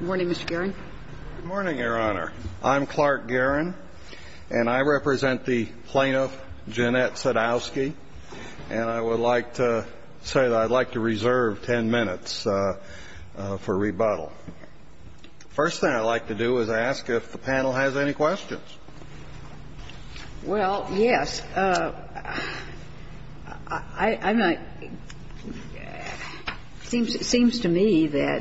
Good morning, Mr. Guerin. Good morning, Your Honor. I'm Clark Guerin, and I represent the plaintiff, Jeanette Sadowski, and I would like to say that I'd like to reserve 10 minutes for rebuttal. The first thing I'd like to do is ask if the panel has any questions. Well, yes. It seems to me that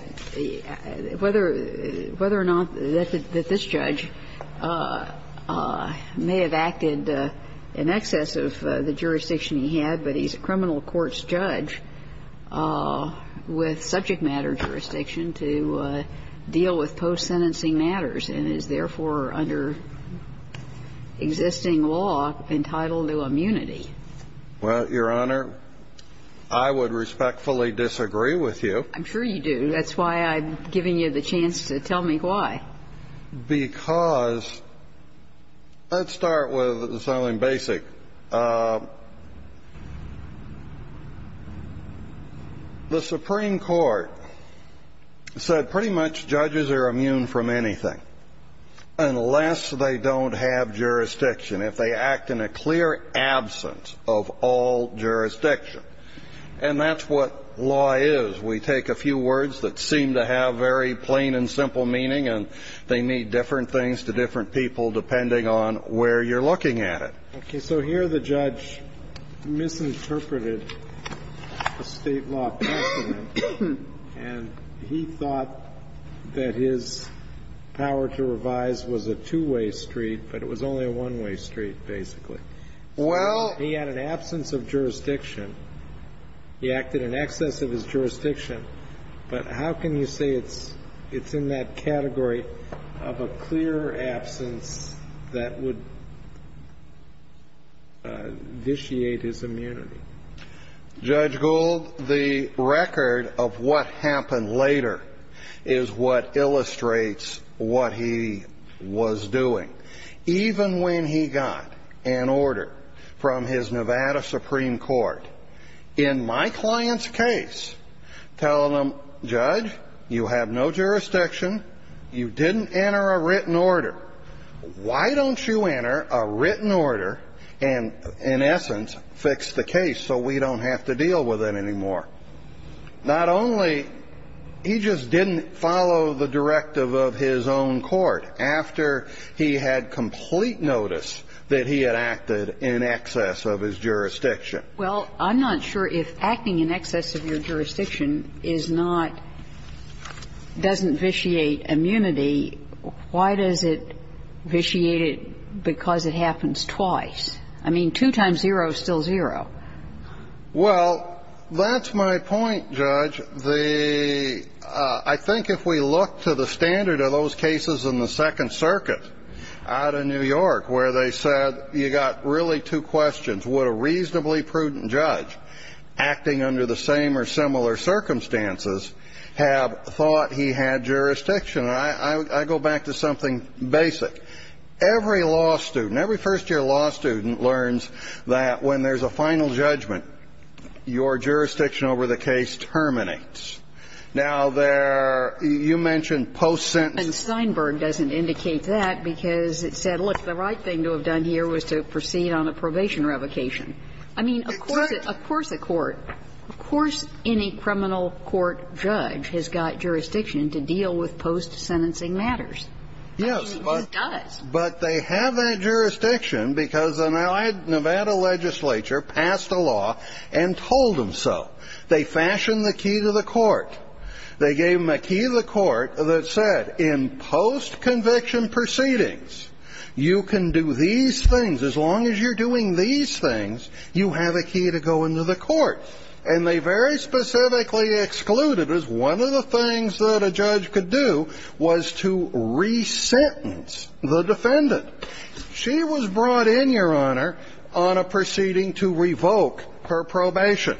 whether or not this judge may have acted in excess of the jurisdiction he had, but he's a criminal courts judge with subject matter jurisdiction to deal with post-sentencing matters and is therefore under existing law entitled to immunity. Well, Your Honor, I would respectfully disagree with you. I'm sure you do. That's why I'm giving you the chance to tell me why. Because let's start with something basic. The Supreme Court said pretty much judges are immune from anything unless they don't have jurisdiction, if they act in a clear absence of all jurisdiction. And that's what law is. We take a few words that seem to have very plain and simple meaning, and they mean different things to different people depending on where you're looking at it. Okay. So here the judge misinterpreted a State law precedent, and he thought that his power to revise was a two-way street, but it was only a one-way street, basically. Well — He had an absence of jurisdiction. He acted in excess of his jurisdiction. But how can you say it's in that category of a clear absence that would vitiate his immunity? Judge Gold, the record of what happened later is what illustrates what he was doing. Even when he got an order from his Nevada Supreme Court, in my client's case, telling them, judge, you have no jurisdiction, you didn't enter a written order. Why don't you enter a written order and, in essence, fix the case so we don't have to deal with it anymore? Not only — he just didn't follow the directive of his own court after he had complete notice that he had acted in excess of his jurisdiction. Well, I'm not sure if acting in excess of your jurisdiction is not — doesn't vitiate immunity, why does it vitiate it because it happens twice? I mean, two times zero is still zero. Well, that's my point, Judge. The — I think if we look to the standard of those cases in the Second Circuit out of New York where they said you got really two questions, would a reasonably prudent judge acting under the same or similar circumstances have thought he had jurisdiction? I go back to something basic. Every law student, every first-year law student learns that when there's a final judgment, your jurisdiction over the case terminates. Now, there — you mentioned post-sentencing. And Steinberg doesn't indicate that because it said, look, the right thing to have done here was to proceed on a probation revocation. I mean, of course the court — of course any criminal court judge has got jurisdiction to deal with post-sentencing matters. Yes. I mean, he just does. But they have that jurisdiction because an allied Nevada legislature passed a law and told them so. They fashioned the key to the court. They gave them a key to the court that said in post-conviction proceedings, you can do these things. As long as you're doing these things, you have a key to go into the court. And they very specifically excluded as one of the things that a judge could do was to resentence the defendant. She was brought in, Your Honor, on a proceeding to revoke her probation.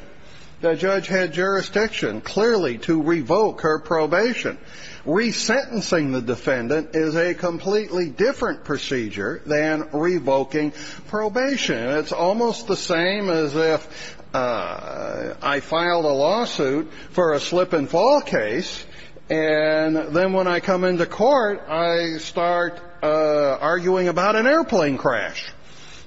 The judge had jurisdiction clearly to revoke her probation. Resentencing the defendant is a completely different procedure than revoking probation. It's almost the same as if I filed a lawsuit for a slip-and-fall case. And then when I come into court, I start arguing about an airplane crash.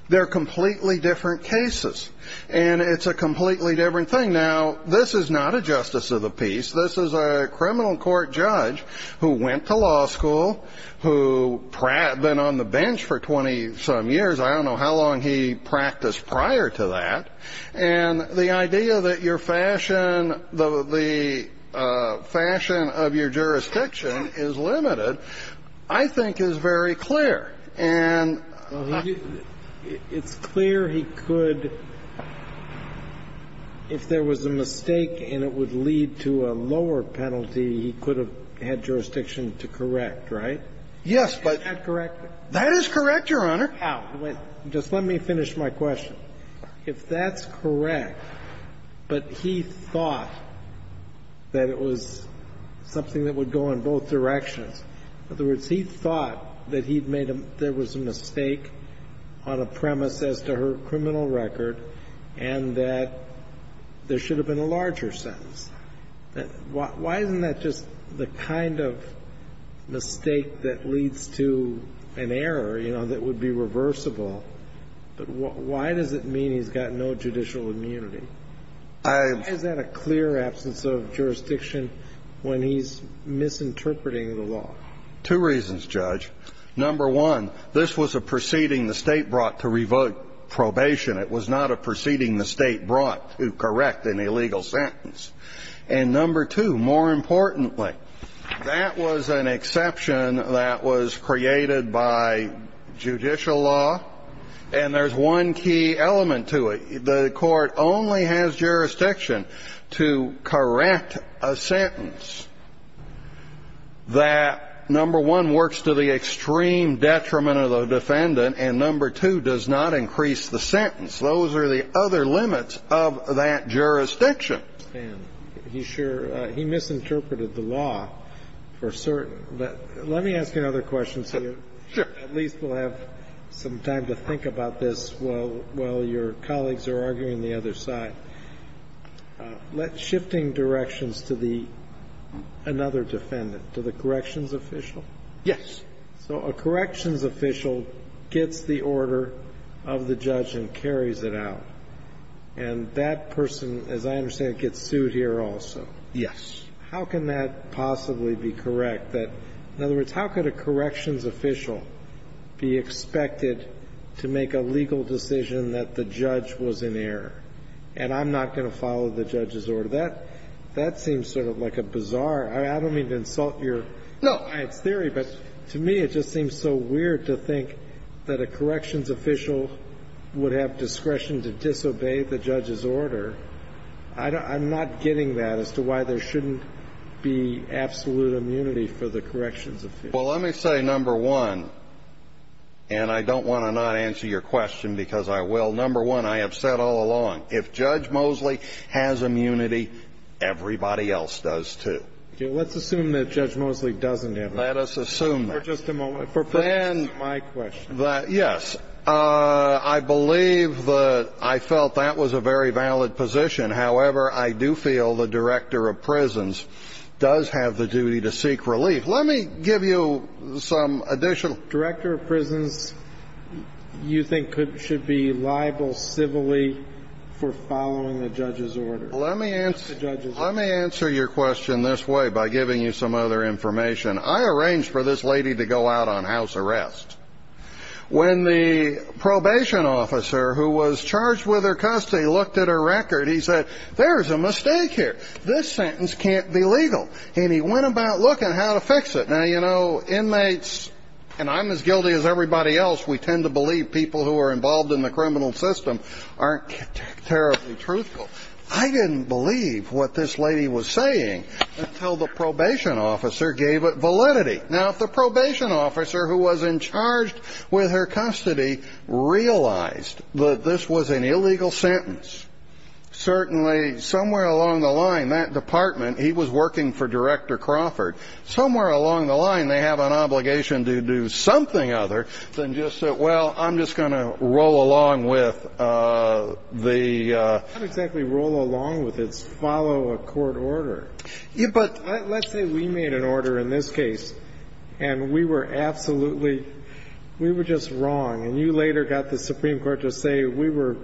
They're completely different cases. And it's a completely different thing. Now, this is not a justice of the peace. This is a criminal court judge who went to law school, who had been on the bench for 20-some years. I don't know how long he practiced prior to that. And the idea that your fashion, the fashion of your jurisdiction is limited, I think, is very clear. And he didn't. It's clear he could, if there was a mistake and it would lead to a lower penalty, he could have had jurisdiction to correct, right? Yes, but. Is that correct? That is correct, Your Honor. How? Just let me finish my question. If that's correct, but he thought that it was something that would go in both directions, in other words, he thought that he'd made a – there was a mistake on a premise as to her criminal record and that there should have been a larger sentence. Why isn't that just the kind of mistake that leads to an error, you know, that would be reversible? But why does it mean he's got no judicial immunity? Why is that a clear absence of jurisdiction when he's misinterpreting the law? Two reasons, Judge. Number one, this was a proceeding the State brought to revoke probation. It was not a proceeding the State brought to correct an illegal sentence. And number two, more importantly, that was an exception that was created by judicial law, and there's one key element to it. The Court only has jurisdiction to correct a sentence that, number one, works to the extreme detriment of the defendant and, number two, does not increase the sentence. Those are the other limits of that jurisdiction. And he sure – he misinterpreted the law for certain. But let me ask you another question so you at least will have some time to think about this while your colleagues are arguing the other side. But shifting directions to the – another defendant, to the corrections official? Yes. So a corrections official gets the order of the judge and carries it out. And that person, as I understand it, gets sued here also. Yes. How can that possibly be correct? In other words, how could a corrections official be expected to make a legal decision that the judge was in error and I'm not going to follow the judge's order? That seems sort of like a bizarre – I don't mean to insult your science theory, but to me it just seems so weird to think that a corrections official would have discretion to disobey the judge's order. I'm not getting that as to why there shouldn't be absolute immunity for the corrections official. Well, let me say number one, and I don't want to not answer your question because I will. Number one, I have said all along, if Judge Mosley has immunity, everybody else does too. Let's assume that Judge Mosley doesn't have immunity. Let us assume that. For just a moment. For perhaps my question. Yes. I believe that – I felt that was a very valid position. However, I do feel the director of prisons does have the duty to seek relief. Let me give you some additional – Director of prisons you think should be liable civilly for following the judge's order? Let me answer your question this way by giving you some other information. I arranged for this lady to go out on house arrest. When the probation officer who was charged with her custody looked at her record, he said, there is a mistake here. This sentence can't be legal. And he went about looking how to fix it. Now, you know, inmates – and I'm as guilty as everybody else. We tend to believe people who are involved in the criminal system aren't terribly truthful. I didn't believe what this lady was saying until the probation officer gave it validity. Now, if the probation officer who was in charge with her custody realized that this was an illegal sentence, certainly somewhere along the line, that department – he was working for Director Crawford – somewhere along the line, they have an obligation to do something other than just say, well, I'm just going to roll along with the – Not exactly roll along with. It's follow a court order. But let's say we made an order in this case, and we were absolutely – we were just wrong. And you later got the Supreme Court to say we were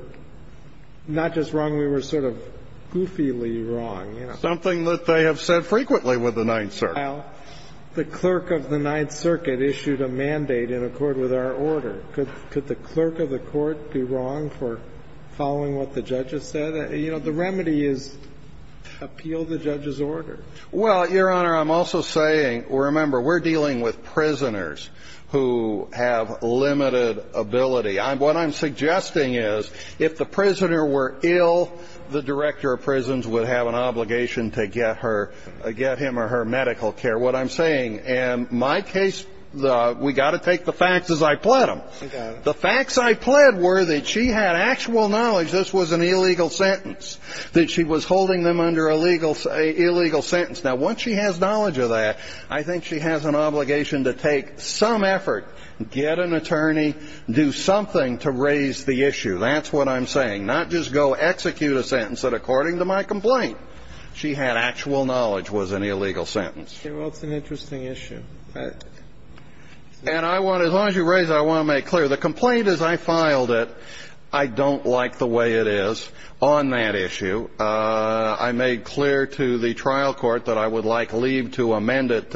not just wrong, we were sort of goofily wrong. Something that they have said frequently with the Ninth Circuit. Well, the clerk of the Ninth Circuit issued a mandate in accord with our order. Could the clerk of the court be wrong for following what the judge has said? You know, the remedy is appeal the judge's order. Well, Your Honor, I'm also saying – remember, we're dealing with prisoners who have limited ability. What I'm suggesting is if the prisoner were ill, the director of prisons would have an obligation to get her – get him or her medical care. What I'm saying – and my case, we've got to take the facts as I pled them. The facts I pled were that she had actual knowledge this was an illegal sentence, that she was holding them under an illegal sentence. Now, once she has knowledge of that, I think she has an obligation to take some effort, get an attorney, do something to raise the issue. That's what I'm saying. Not just go execute a sentence that, according to my complaint, she had actual knowledge was an illegal sentence. Well, it's an interesting issue. And I want – as long as you raise it, I want to make clear. The complaint as I filed it, I don't like the way it is on that issue. I made clear to the trial court that I would like leave to amend it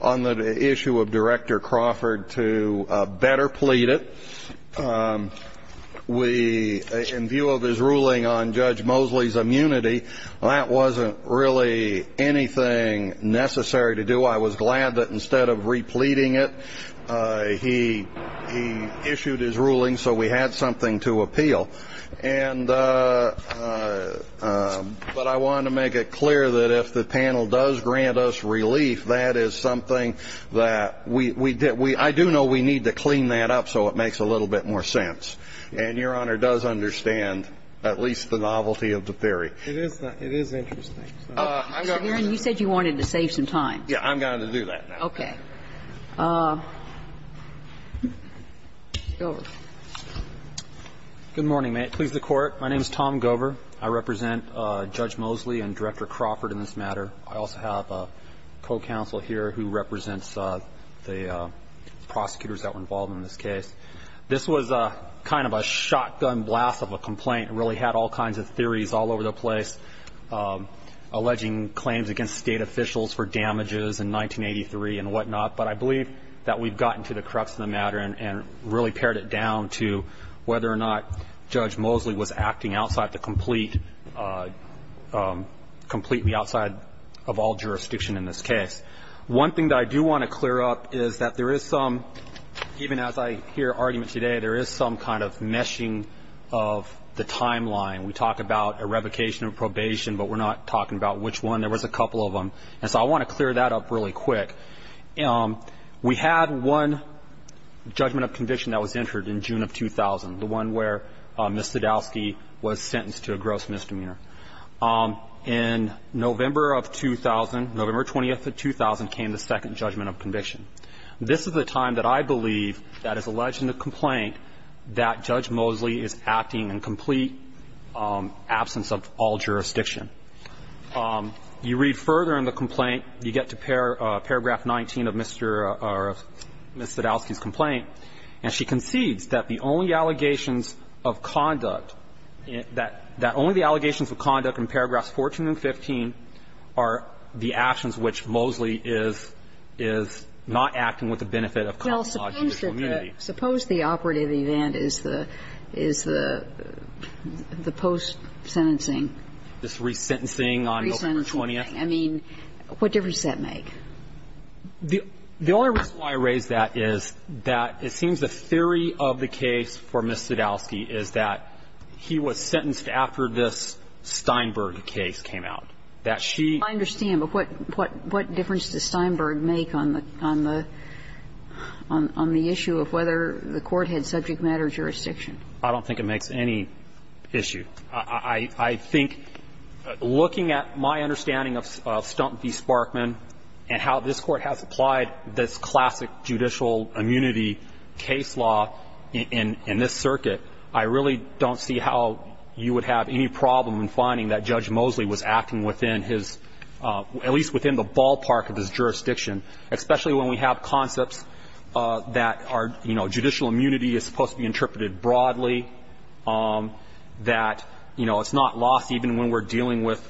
on the issue of Director Crawford to better plead it. We – in view of his ruling on Judge Mosley's immunity, that wasn't really anything necessary to do. I was glad that instead of repleading it, he issued his ruling so we had something to appeal. And – but I wanted to make it clear that if the panel does grant us relief, that is something that we – I do know we need to clean that up so it makes a little bit more sense. And Your Honor does understand at least the novelty of the theory. It is interesting. Mr. Guerin, you said you wanted to save some time. Yeah, I'm going to do that now. Okay. Go over. Good morning. May it please the Court. My name is Tom Gover. I represent Judge Mosley and Director Crawford in this matter. I also have a co-counsel here who represents the prosecutors that were involved in this case. This was kind of a shotgun blast of a complaint. It really had all kinds of theories all over the place, alleging claims against State officials for damages in 1983 and whatnot. But I believe that we've gotten to the crux of the matter and really pared it down to whether or not Judge Mosley was acting outside the complete – completely outside of all jurisdiction in this case. One thing that I do want to clear up is that there is some – even as I hear arguments today, there is some kind of meshing of the timeline. We talk about a revocation of probation, but we're not talking about which one. And so I want to clear that up really quick. We had one judgment of conviction that was entered in June of 2000, the one where Ms. Sadowski was sentenced to a gross misdemeanor. In November of 2000, November 20th of 2000, came the second judgment of conviction. This is the time that I believe that is alleged in the complaint that Judge Mosley is acting in complete absence of all jurisdiction. You read further in the complaint. You get to paragraph 19 of Mr. or Ms. Sadowski's complaint. And she concedes that the only allegations of conduct, that only the allegations of conduct in paragraphs 14 and 15 are the actions which Mosley is not acting with the benefit of common law, judicial immunity. Suppose the operative event is the post-sentencing. This resentencing on November 20th. I mean, what difference does that make? The only reason why I raise that is that it seems the theory of the case for Ms. Sadowski is that he was sentenced after this Steinberg case came out, that she – I understand, but what difference does Steinberg make on the issue of whether the Court had subject matter jurisdiction? I don't think it makes any issue. I think looking at my understanding of Stump v. Sparkman and how this Court has applied this classic judicial immunity case law in this circuit, I really don't see how you would have any problem in finding that Judge Mosley was acting within his – at least within the ballpark of his jurisdiction, especially when we have concepts that are – you know, judicial immunity is supposed to be interpreted broadly, that, you know, it's not lost even when we're dealing with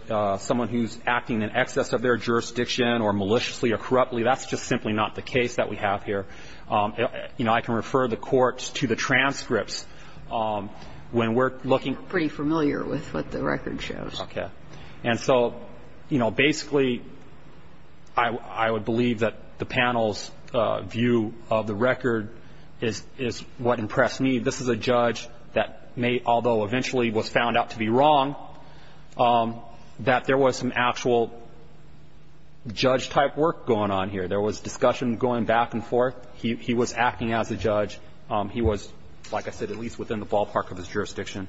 someone who's acting in excess of their jurisdiction or maliciously or corruptly. That's just simply not the case that we have here. You know, I can refer the Court to the transcripts when we're looking – I'm pretty familiar with what the record shows. Okay. And so, you know, basically, I would believe that the panel's view of the record is what impressed me. This is a judge that may – although eventually was found out to be wrong, that there was some actual judge-type work going on here. There was discussion going back and forth. He was acting as a judge. He was, like I said, at least within the ballpark of his jurisdiction.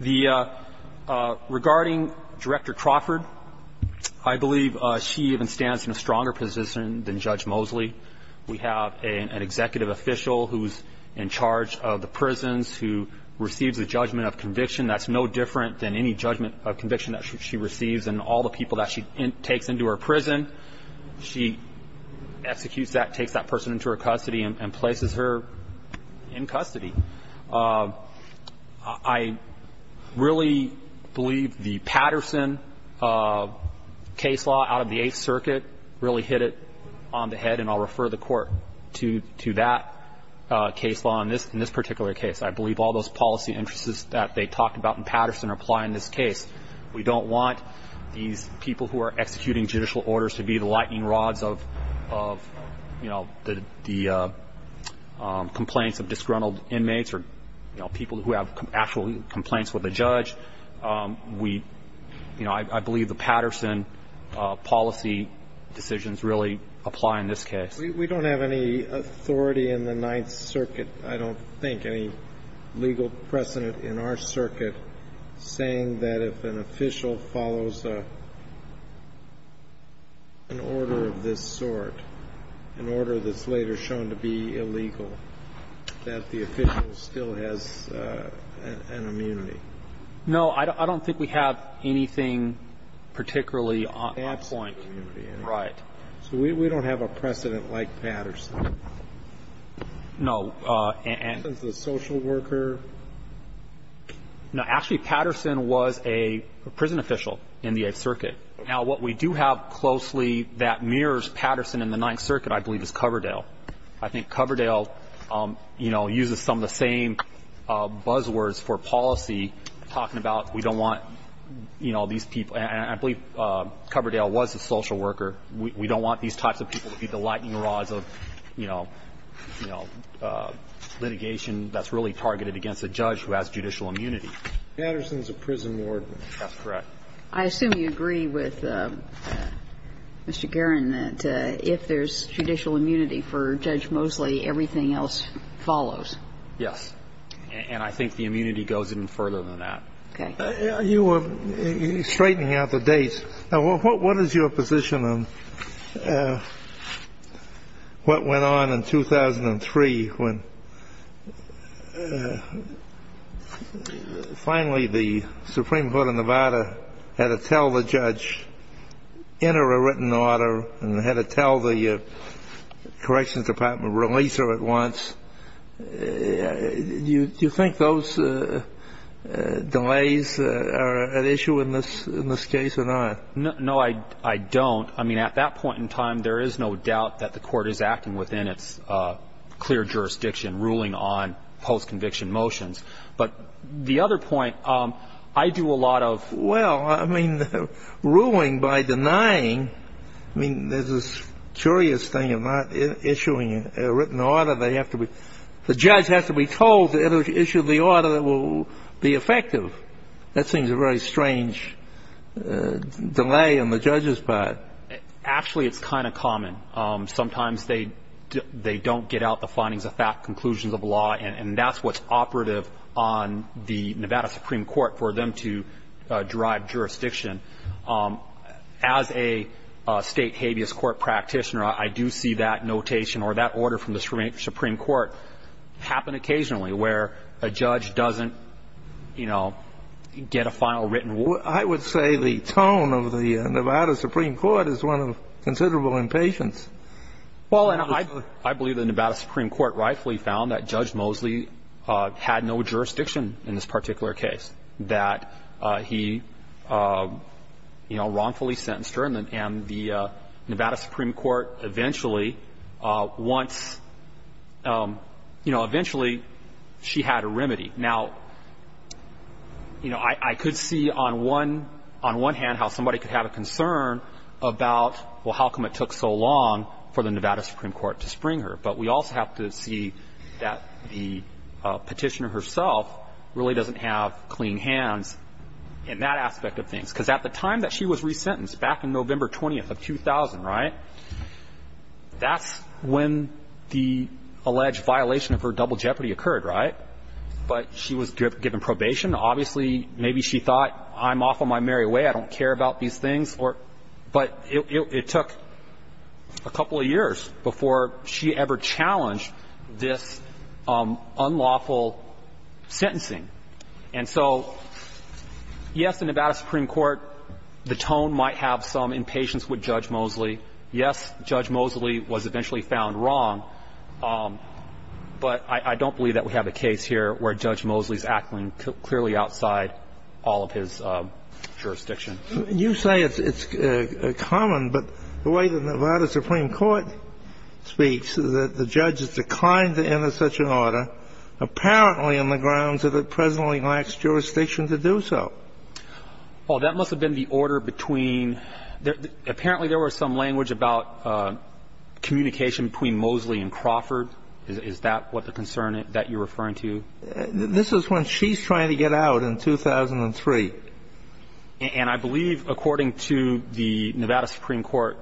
The – regarding Director Crawford, I believe she even stands in a stronger position than Judge Mosley. We have an executive official who's in charge of the prisons, who receives a judgment of conviction. That's no different than any judgment of conviction that she receives. And all the people that she takes into her prison, she executes that, takes that person into her custody and places her in custody. I really believe the Patterson case law out of the Eighth Circuit really hit it on the head, and I'll refer the Court to that case law in this particular case. I believe all those policy interests that they talked about in Patterson apply in this case. We don't want these people who are executing judicial orders to be the lightning rods of the complaints of disgruntled inmates or people who have actual complaints with a judge. We – I believe the Patterson policy decisions really apply in this case. We don't have any authority in the Ninth Circuit, I don't think, any legal precedent in our circuit saying that if an official follows an order of this sort, an order that's later shown to be illegal, that the official still has an immunity. No. I don't think we have anything particularly on point. Absolute immunity. Right. So we don't have a precedent like Patterson. No. And the social worker. No. Actually, Patterson was a prison official in the Eighth Circuit. Now, what we do have closely that mirrors Patterson in the Ninth Circuit, I believe, is Coverdale. I think Coverdale, you know, uses some of the same buzzwords for policy, talking about we don't want, you know, these people. And I believe Coverdale was a social worker. We don't want these types of people to be the lightning rods of, you know, you know, litigation that's really targeted against a judge who has judicial immunity. Patterson's a prison warden. That's correct. I assume you agree with Mr. Guerin that if there's judicial immunity for Judge Mosley, everything else follows. Yes. And I think the immunity goes even further than that. Okay. You were straightening out the dates. Now, what is your position on what went on in 2003 when finally the Supreme Court of Nevada had to tell the judge, enter a written order, and had to tell the corrections department, release her at once? Do you think those delays are at issue in this case or not? No, I don't. I mean, at that point in time, there is no doubt that the Court is acting within its clear jurisdiction, ruling on post-conviction motions. But the other point, I do a lot of ---- Well, I mean, ruling by denying, I mean, there's this curious thing of not issuing a written order. The judge has to be told to issue the order that will be effective. That seems a very strange delay on the judge's part. Actually, it's kind of common. Sometimes they don't get out the findings of fact, conclusions of law, and that's what's operative on the Nevada Supreme Court for them to drive jurisdiction. As a state habeas court practitioner, I do see that notation or that order from the Supreme Court happen occasionally where a judge doesn't, you know, get a final written order. I would say the tone of the Nevada Supreme Court is one of considerable impatience. Well, and I believe the Nevada Supreme Court rightfully found that Judge Mosley had no jurisdiction in this particular case, that he, you know, wrongfully sentenced her, and the Nevada Supreme Court eventually wants, you know, eventually she had a remedy. Now, you know, I could see on one hand how somebody could have a concern about, well, how come it took so long for the Nevada Supreme Court to spring her. But we also have to see that the petitioner herself really doesn't have clean hands in that aspect of things. Because at the time that she was resentenced, back in November 20th of 2000, right, that's when the alleged violation of her double jeopardy occurred, right? But she was given probation. Obviously, maybe she thought, I'm off on my merry way. I don't care about these things. But it took a couple of years before she ever challenged this unlawful sentencing. And so, yes, the Nevada Supreme Court, the tone might have some impatience with Judge Mosley. Yes, Judge Mosley was eventually found wrong. But I don't believe that we have a case here where Judge Mosley is acting clearly outside all of his jurisdiction. You say it's common, but the way the Nevada Supreme Court speaks is that the judge has declined to enter such an order apparently on the grounds that it presently lacks jurisdiction to do so. Well, that must have been the order between the – apparently there was some language about communication between Mosley and Crawford. Is that what the concern that you're referring to? This is when she's trying to get out in 2003. And I believe, according to the Nevada Supreme Court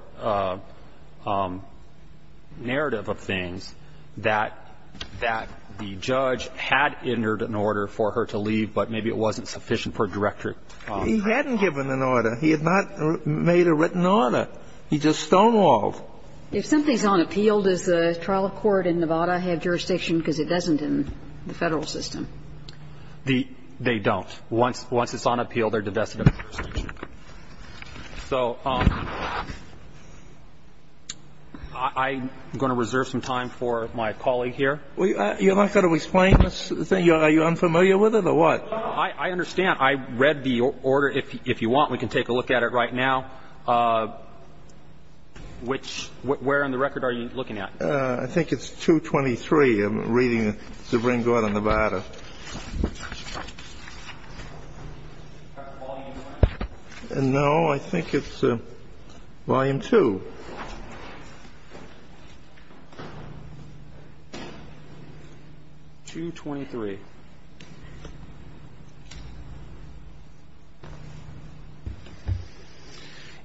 narrative of things, that that the judge had entered an order for her to leave, but maybe it wasn't sufficient for director. He hadn't given an order. He had not made a written order. He just stonewalled. If something's unappealed, does the trial court in Nevada have jurisdiction because it doesn't in the Federal system? They don't. Once it's unappealed, they're divested of jurisdiction. So I'm going to reserve some time for my colleague here. You're not going to explain this? Are you unfamiliar with it or what? I understand. I read the order. If you want, we can take a look at it right now. Which – where on the record are you looking at? I think it's 223. I'm reading the Supreme Court of Nevada. No, I think it's volume 2. 223.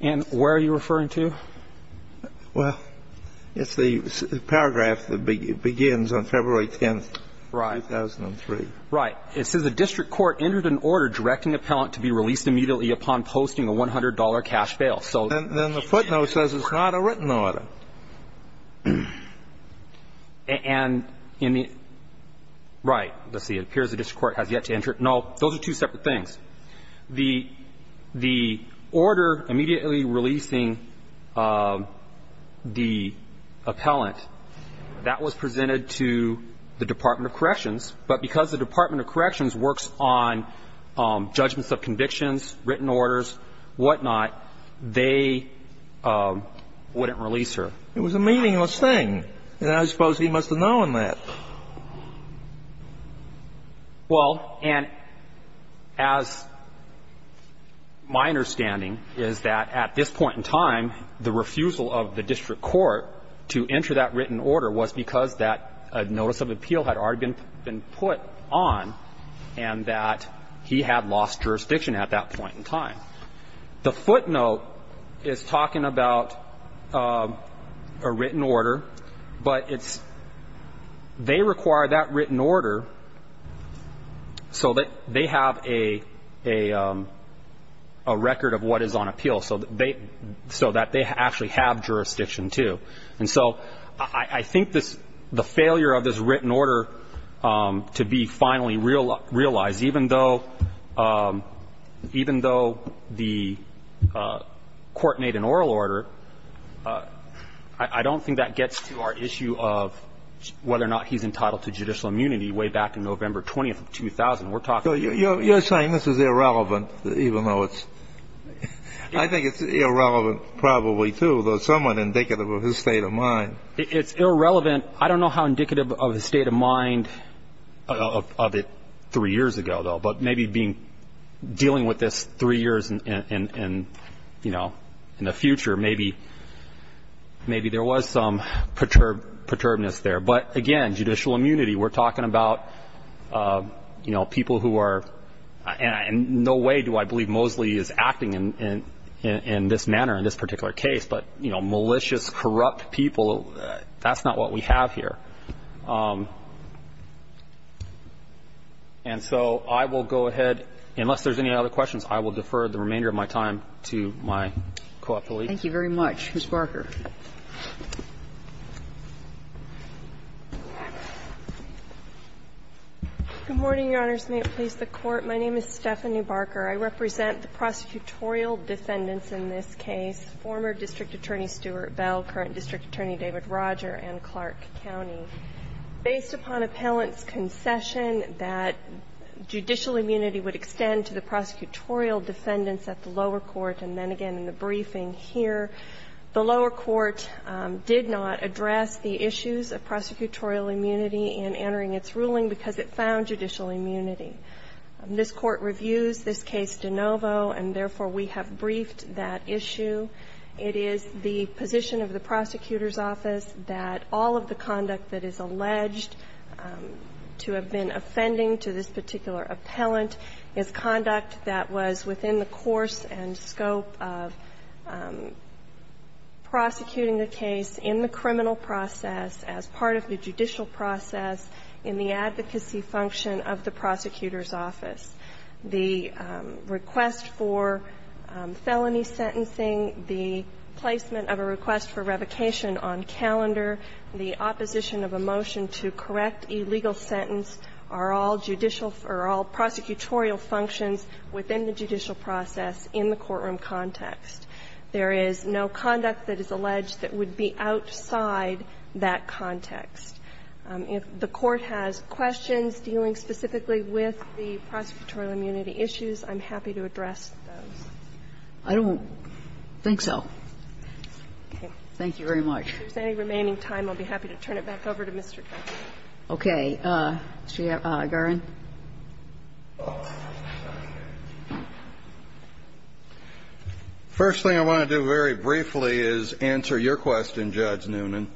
And where are you referring to? Well, it's the paragraph that begins on February 10th, 2003. Right. It says the district court entered an order directing appellant to be released immediately upon posting a $100 cash bail. Then the footnote says it's not a written order. And in the – right. Let's see. It appears the district court has yet to enter it. Those are two separate things. The order immediately releasing the appellant, that was presented to the Department of Corrections, but because the Department of Corrections works on judgments of convictions, written orders, whatnot, they wouldn't release her. It was a meaningless thing. And I suppose he must have known that. Well, and as my understanding is that at this point in time, the refusal of the district court to enter that written order was because that notice of appeal had already been put on and that he had lost jurisdiction at that point in time. The footnote is talking about a written order, but it's – they require that written order so that they have a record of what is on appeal so that they actually have jurisdiction, too. And so I think this – the failure of this written order to be finally realized, even though the court made an oral order, I don't think that gets to our issue of whether or not he's entitled to judicial immunity way back in November 20th of 2000. We're talking – You're saying this is irrelevant, even though it's – I think it's irrelevant probably, too, though somewhat indicative of his state of mind. It's irrelevant. I don't know how indicative of his state of mind of it three years ago, though, but maybe being – dealing with this three years in, you know, in the future, maybe there was some perturbedness there. But, again, judicial immunity, we're talking about, you know, people who are – and in no way do I believe Mosley is acting in this manner in this particular case, but, you know, malicious, corrupt people, that's not what we have here. And so I will go ahead – unless there's any other questions, I will defer the remainder of my time to my co-appellee. Thank you very much. Ms. Barker. Barker. Good morning, Your Honors, and may it please the Court. My name is Stephanie Barker. I represent the prosecutorial defendants in this case, former District Attorney Stuart Bell, current District Attorney David Roger, and Clark County. Based upon appellant's concession that judicial immunity would extend to the prosecutorial defendants at the lower court, and then again in the briefing here, the lower court did not address the issues of prosecutorial immunity in entering its ruling because it found judicial immunity. This Court reviews this case de novo, and therefore we have briefed that issue. It is the position of the prosecutor's office that all of the conduct that is alleged to have been offending to this particular appellant is conduct that was within the course and scope of prosecuting the case in the criminal process, as part of the judicial process, in the advocacy function of the prosecutor's office. The request for felony sentencing, the placement of a request for revocation on calendar, the opposition of a motion to correct a legal sentence are all judicial or are all prosecutorial functions within the judicial process in the courtroom context. There is no conduct that is alleged that would be outside that context. If the Court has questions dealing specifically with the prosecutorial immunity issues, I'm happy to address those. I don't think so. Thank you very much. If there's any remaining time, I'll be happy to turn it back over to Mr. Kennedy. Okay. Mr. Garan. First thing I want to do very briefly is answer your question, Judge Noonan.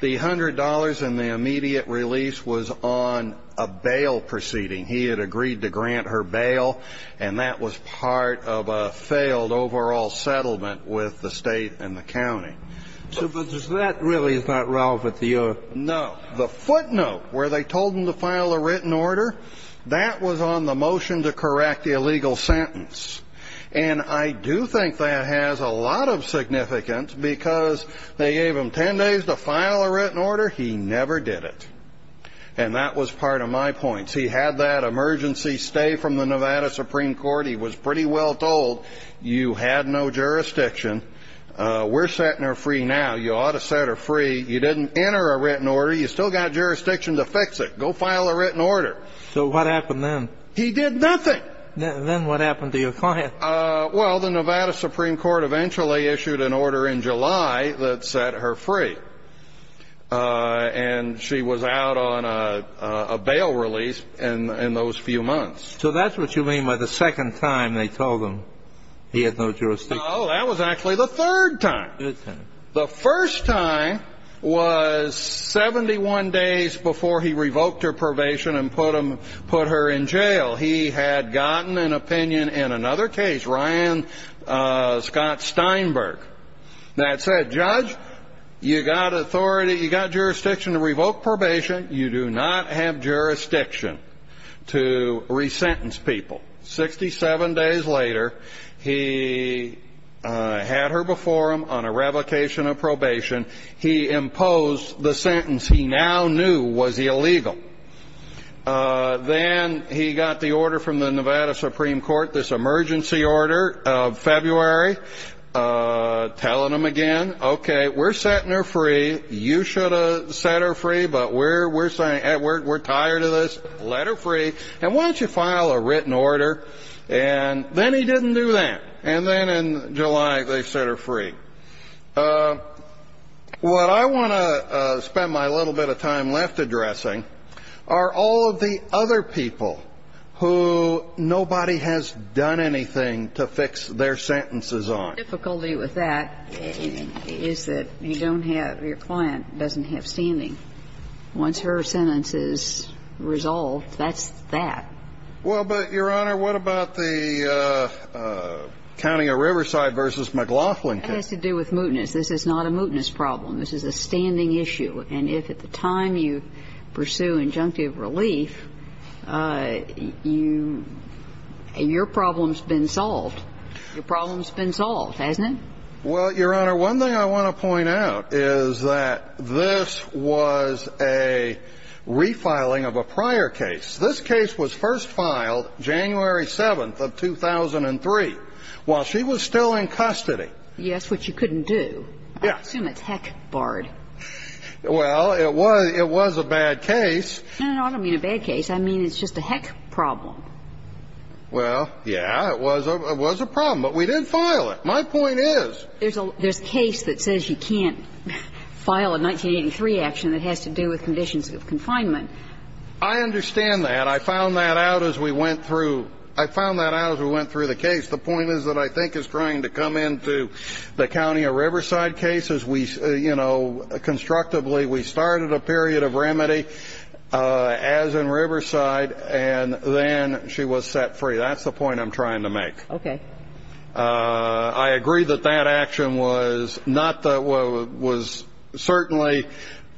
The $100 in the immediate release was on a bail proceeding. He had agreed to grant her bail, and that was part of a failed overall settlement with the state and the county. So that really is not relevant to your... No. The footnote where they told him to file a written order, that was on the motion to correct the illegal sentence. And I do think that has a lot of significance, because they gave him 10 days to file a written order. He never did it. And that was part of my points. He had that emergency stay from the Nevada Supreme Court. He was pretty well told, you had no jurisdiction. We're setting her free now. You ought to set her free. You didn't enter a written order. You still got jurisdiction to fix it. Go file a written order. So what happened then? He did nothing. Then what happened to your client? Well, the Nevada Supreme Court eventually issued an order in July that set her free. And she was out on a bail release in those few months. So that's what you mean by the second time they told him he had no jurisdiction? No, that was actually the third time. The first time was 71 days before he revoked her probation and put her in jail. He had gotten an opinion in another case, Ryan Scott Steinberg, that said, Judge, you got jurisdiction to revoke probation. You do not have jurisdiction to re-sentence people. 67 days later, he had her before him on a revocation of probation. He imposed the sentence he now knew was illegal. Then he got the order from the Nevada Supreme Court, this emergency order of February, telling him again, okay, we're setting her free. You should have set her free, but we're saying, Edward, we're tired of this. Let her free. And why don't you file a written order? And then he didn't do that. And then in July, they set her free. What I want to spend my little bit of time left addressing are all of the other people who nobody has done anything to fix their sentences on. The difficulty with that is that you don't have – your client doesn't have standing. Once her sentence is resolved, that's that. Well, but, Your Honor, what about the counting of Riverside v. McLaughlin case? That has to do with mootness. This is not a mootness problem. This is a standing issue. And if at the time you pursue injunctive relief, you – your problem's been solved. Your problem's been solved, hasn't it? Well, Your Honor, one thing I want to point out is that this was a refiling of a prior case. This case was first filed January 7th of 2003 while she was still in custody. Yes, which you couldn't do. Yes. I assume it's heck barred. Well, it was – it was a bad case. No, no, no, I don't mean a bad case. I mean it's just a heck problem. Well, yeah, it was a – it was a problem, but we didn't file it. My point is – There's a – there's a case that says you can't file a 1983 action that has to do with conditions of confinement. I understand that. I found that out as we went through – I found that out as we went through the case. The point is that I think it's trying to come into the counting of Riverside cases. We – you know, constructively, we started a period of remedy as in Riverside, and then she was set free. That's the point I'm trying to make. Okay. I agree that that action was not the – was certainly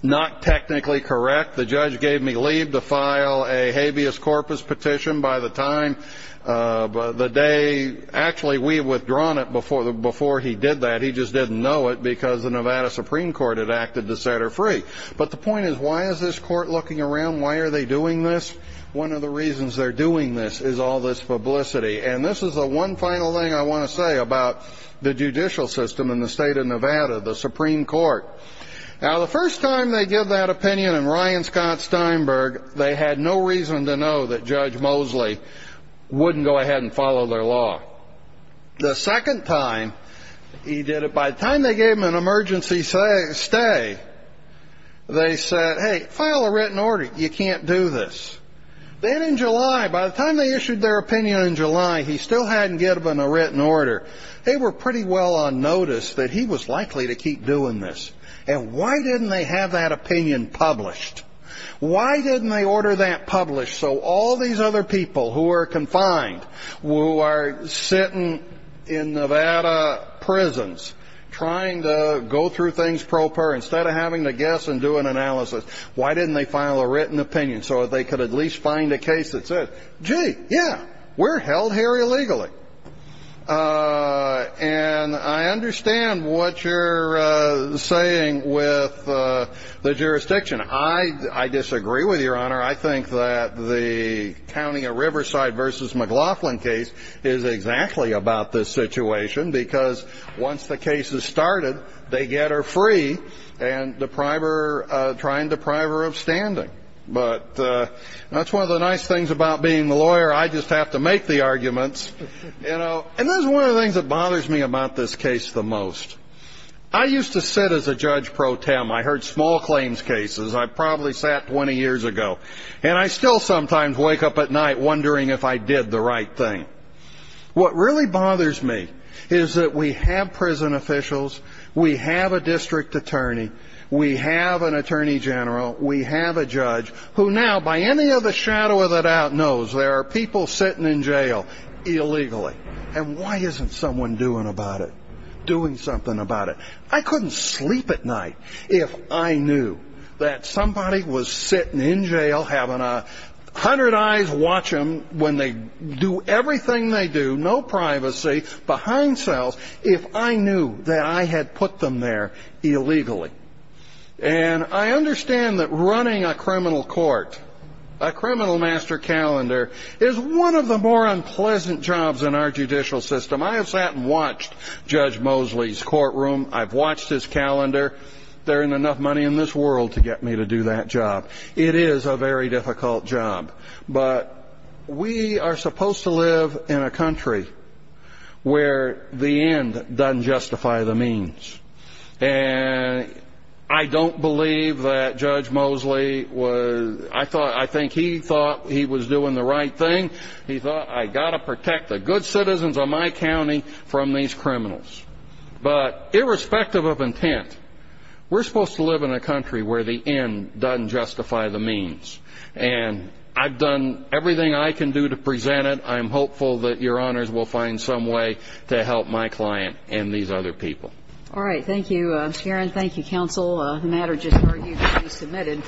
not technically correct. The judge gave me leave to file a habeas corpus petition by the time – the day – actually, we had withdrawn it before he did that. He just didn't know it because the Nevada Supreme Court had acted to set her free. But the point is, why is this court looking around? Why are they doing this? One of the reasons they're doing this is all this publicity. And this is the one final thing I want to say about the judicial system in the state of Nevada, the Supreme Court. Now, the first time they give that opinion in Ryan Scott Steinberg, they had no reason to know that Judge Mosley wouldn't go ahead and follow their law. The second time he did it, by the time they gave him an emergency stay, they said, hey, file a written order. You can't do this. Then in July, by the time they issued their opinion in July, he still hadn't given a written order. They were pretty well on notice that he was likely to keep doing this. And why didn't they have that opinion published? Why didn't they order that published so all these other people who are confined, who are sitting in Nevada prisons trying to go through things proper, instead of having to guess and do an analysis, why didn't they file a written opinion? So they could at least find a case that said, gee, yeah, we're held here illegally. And I understand what you're saying with the jurisdiction. I disagree with you, Your Honor. I think that the County of Riverside v. McLaughlin case is exactly about this situation because once the case is started, they get her free and try and deprive her of standing. But that's one of the nice things about being a lawyer. I just have to make the arguments. And that's one of the things that bothers me about this case the most. I used to sit as a judge pro tem. I heard small claims cases. I probably sat 20 years ago. And I still sometimes wake up at night wondering if I did the right thing. What really bothers me is that we have prison officials, we have a district attorney, we have an attorney general, we have a judge, who now by any other shadow of a doubt knows there are people sitting in jail illegally. And why isn't someone doing something about it? I couldn't sleep at night if I knew that somebody was sitting in jail, having 100 eyes watch them when they do everything they do, no privacy, behind cells, if I knew that I had put them there illegally. And I understand that running a criminal court, a criminal master calendar, is one of the more unpleasant jobs in our judicial system. I have sat and watched Judge Mosley's courtroom. I've watched his calendar. There isn't enough money in this world to get me to do that job. It is a very difficult job. But we are supposed to live in a country where the end doesn't justify the means. And I don't believe that Judge Mosley was – I think he thought he was doing the right thing. He thought, I've got to protect the good citizens of my county from these criminals. But irrespective of intent, we're supposed to live in a country where the end doesn't justify the means. And I've done everything I can do to present it. I'm hopeful that Your Honors will find some way to help my client and these other people. All right. Thank you, Sharon. Thank you, counsel. The matter just argued to be submitted.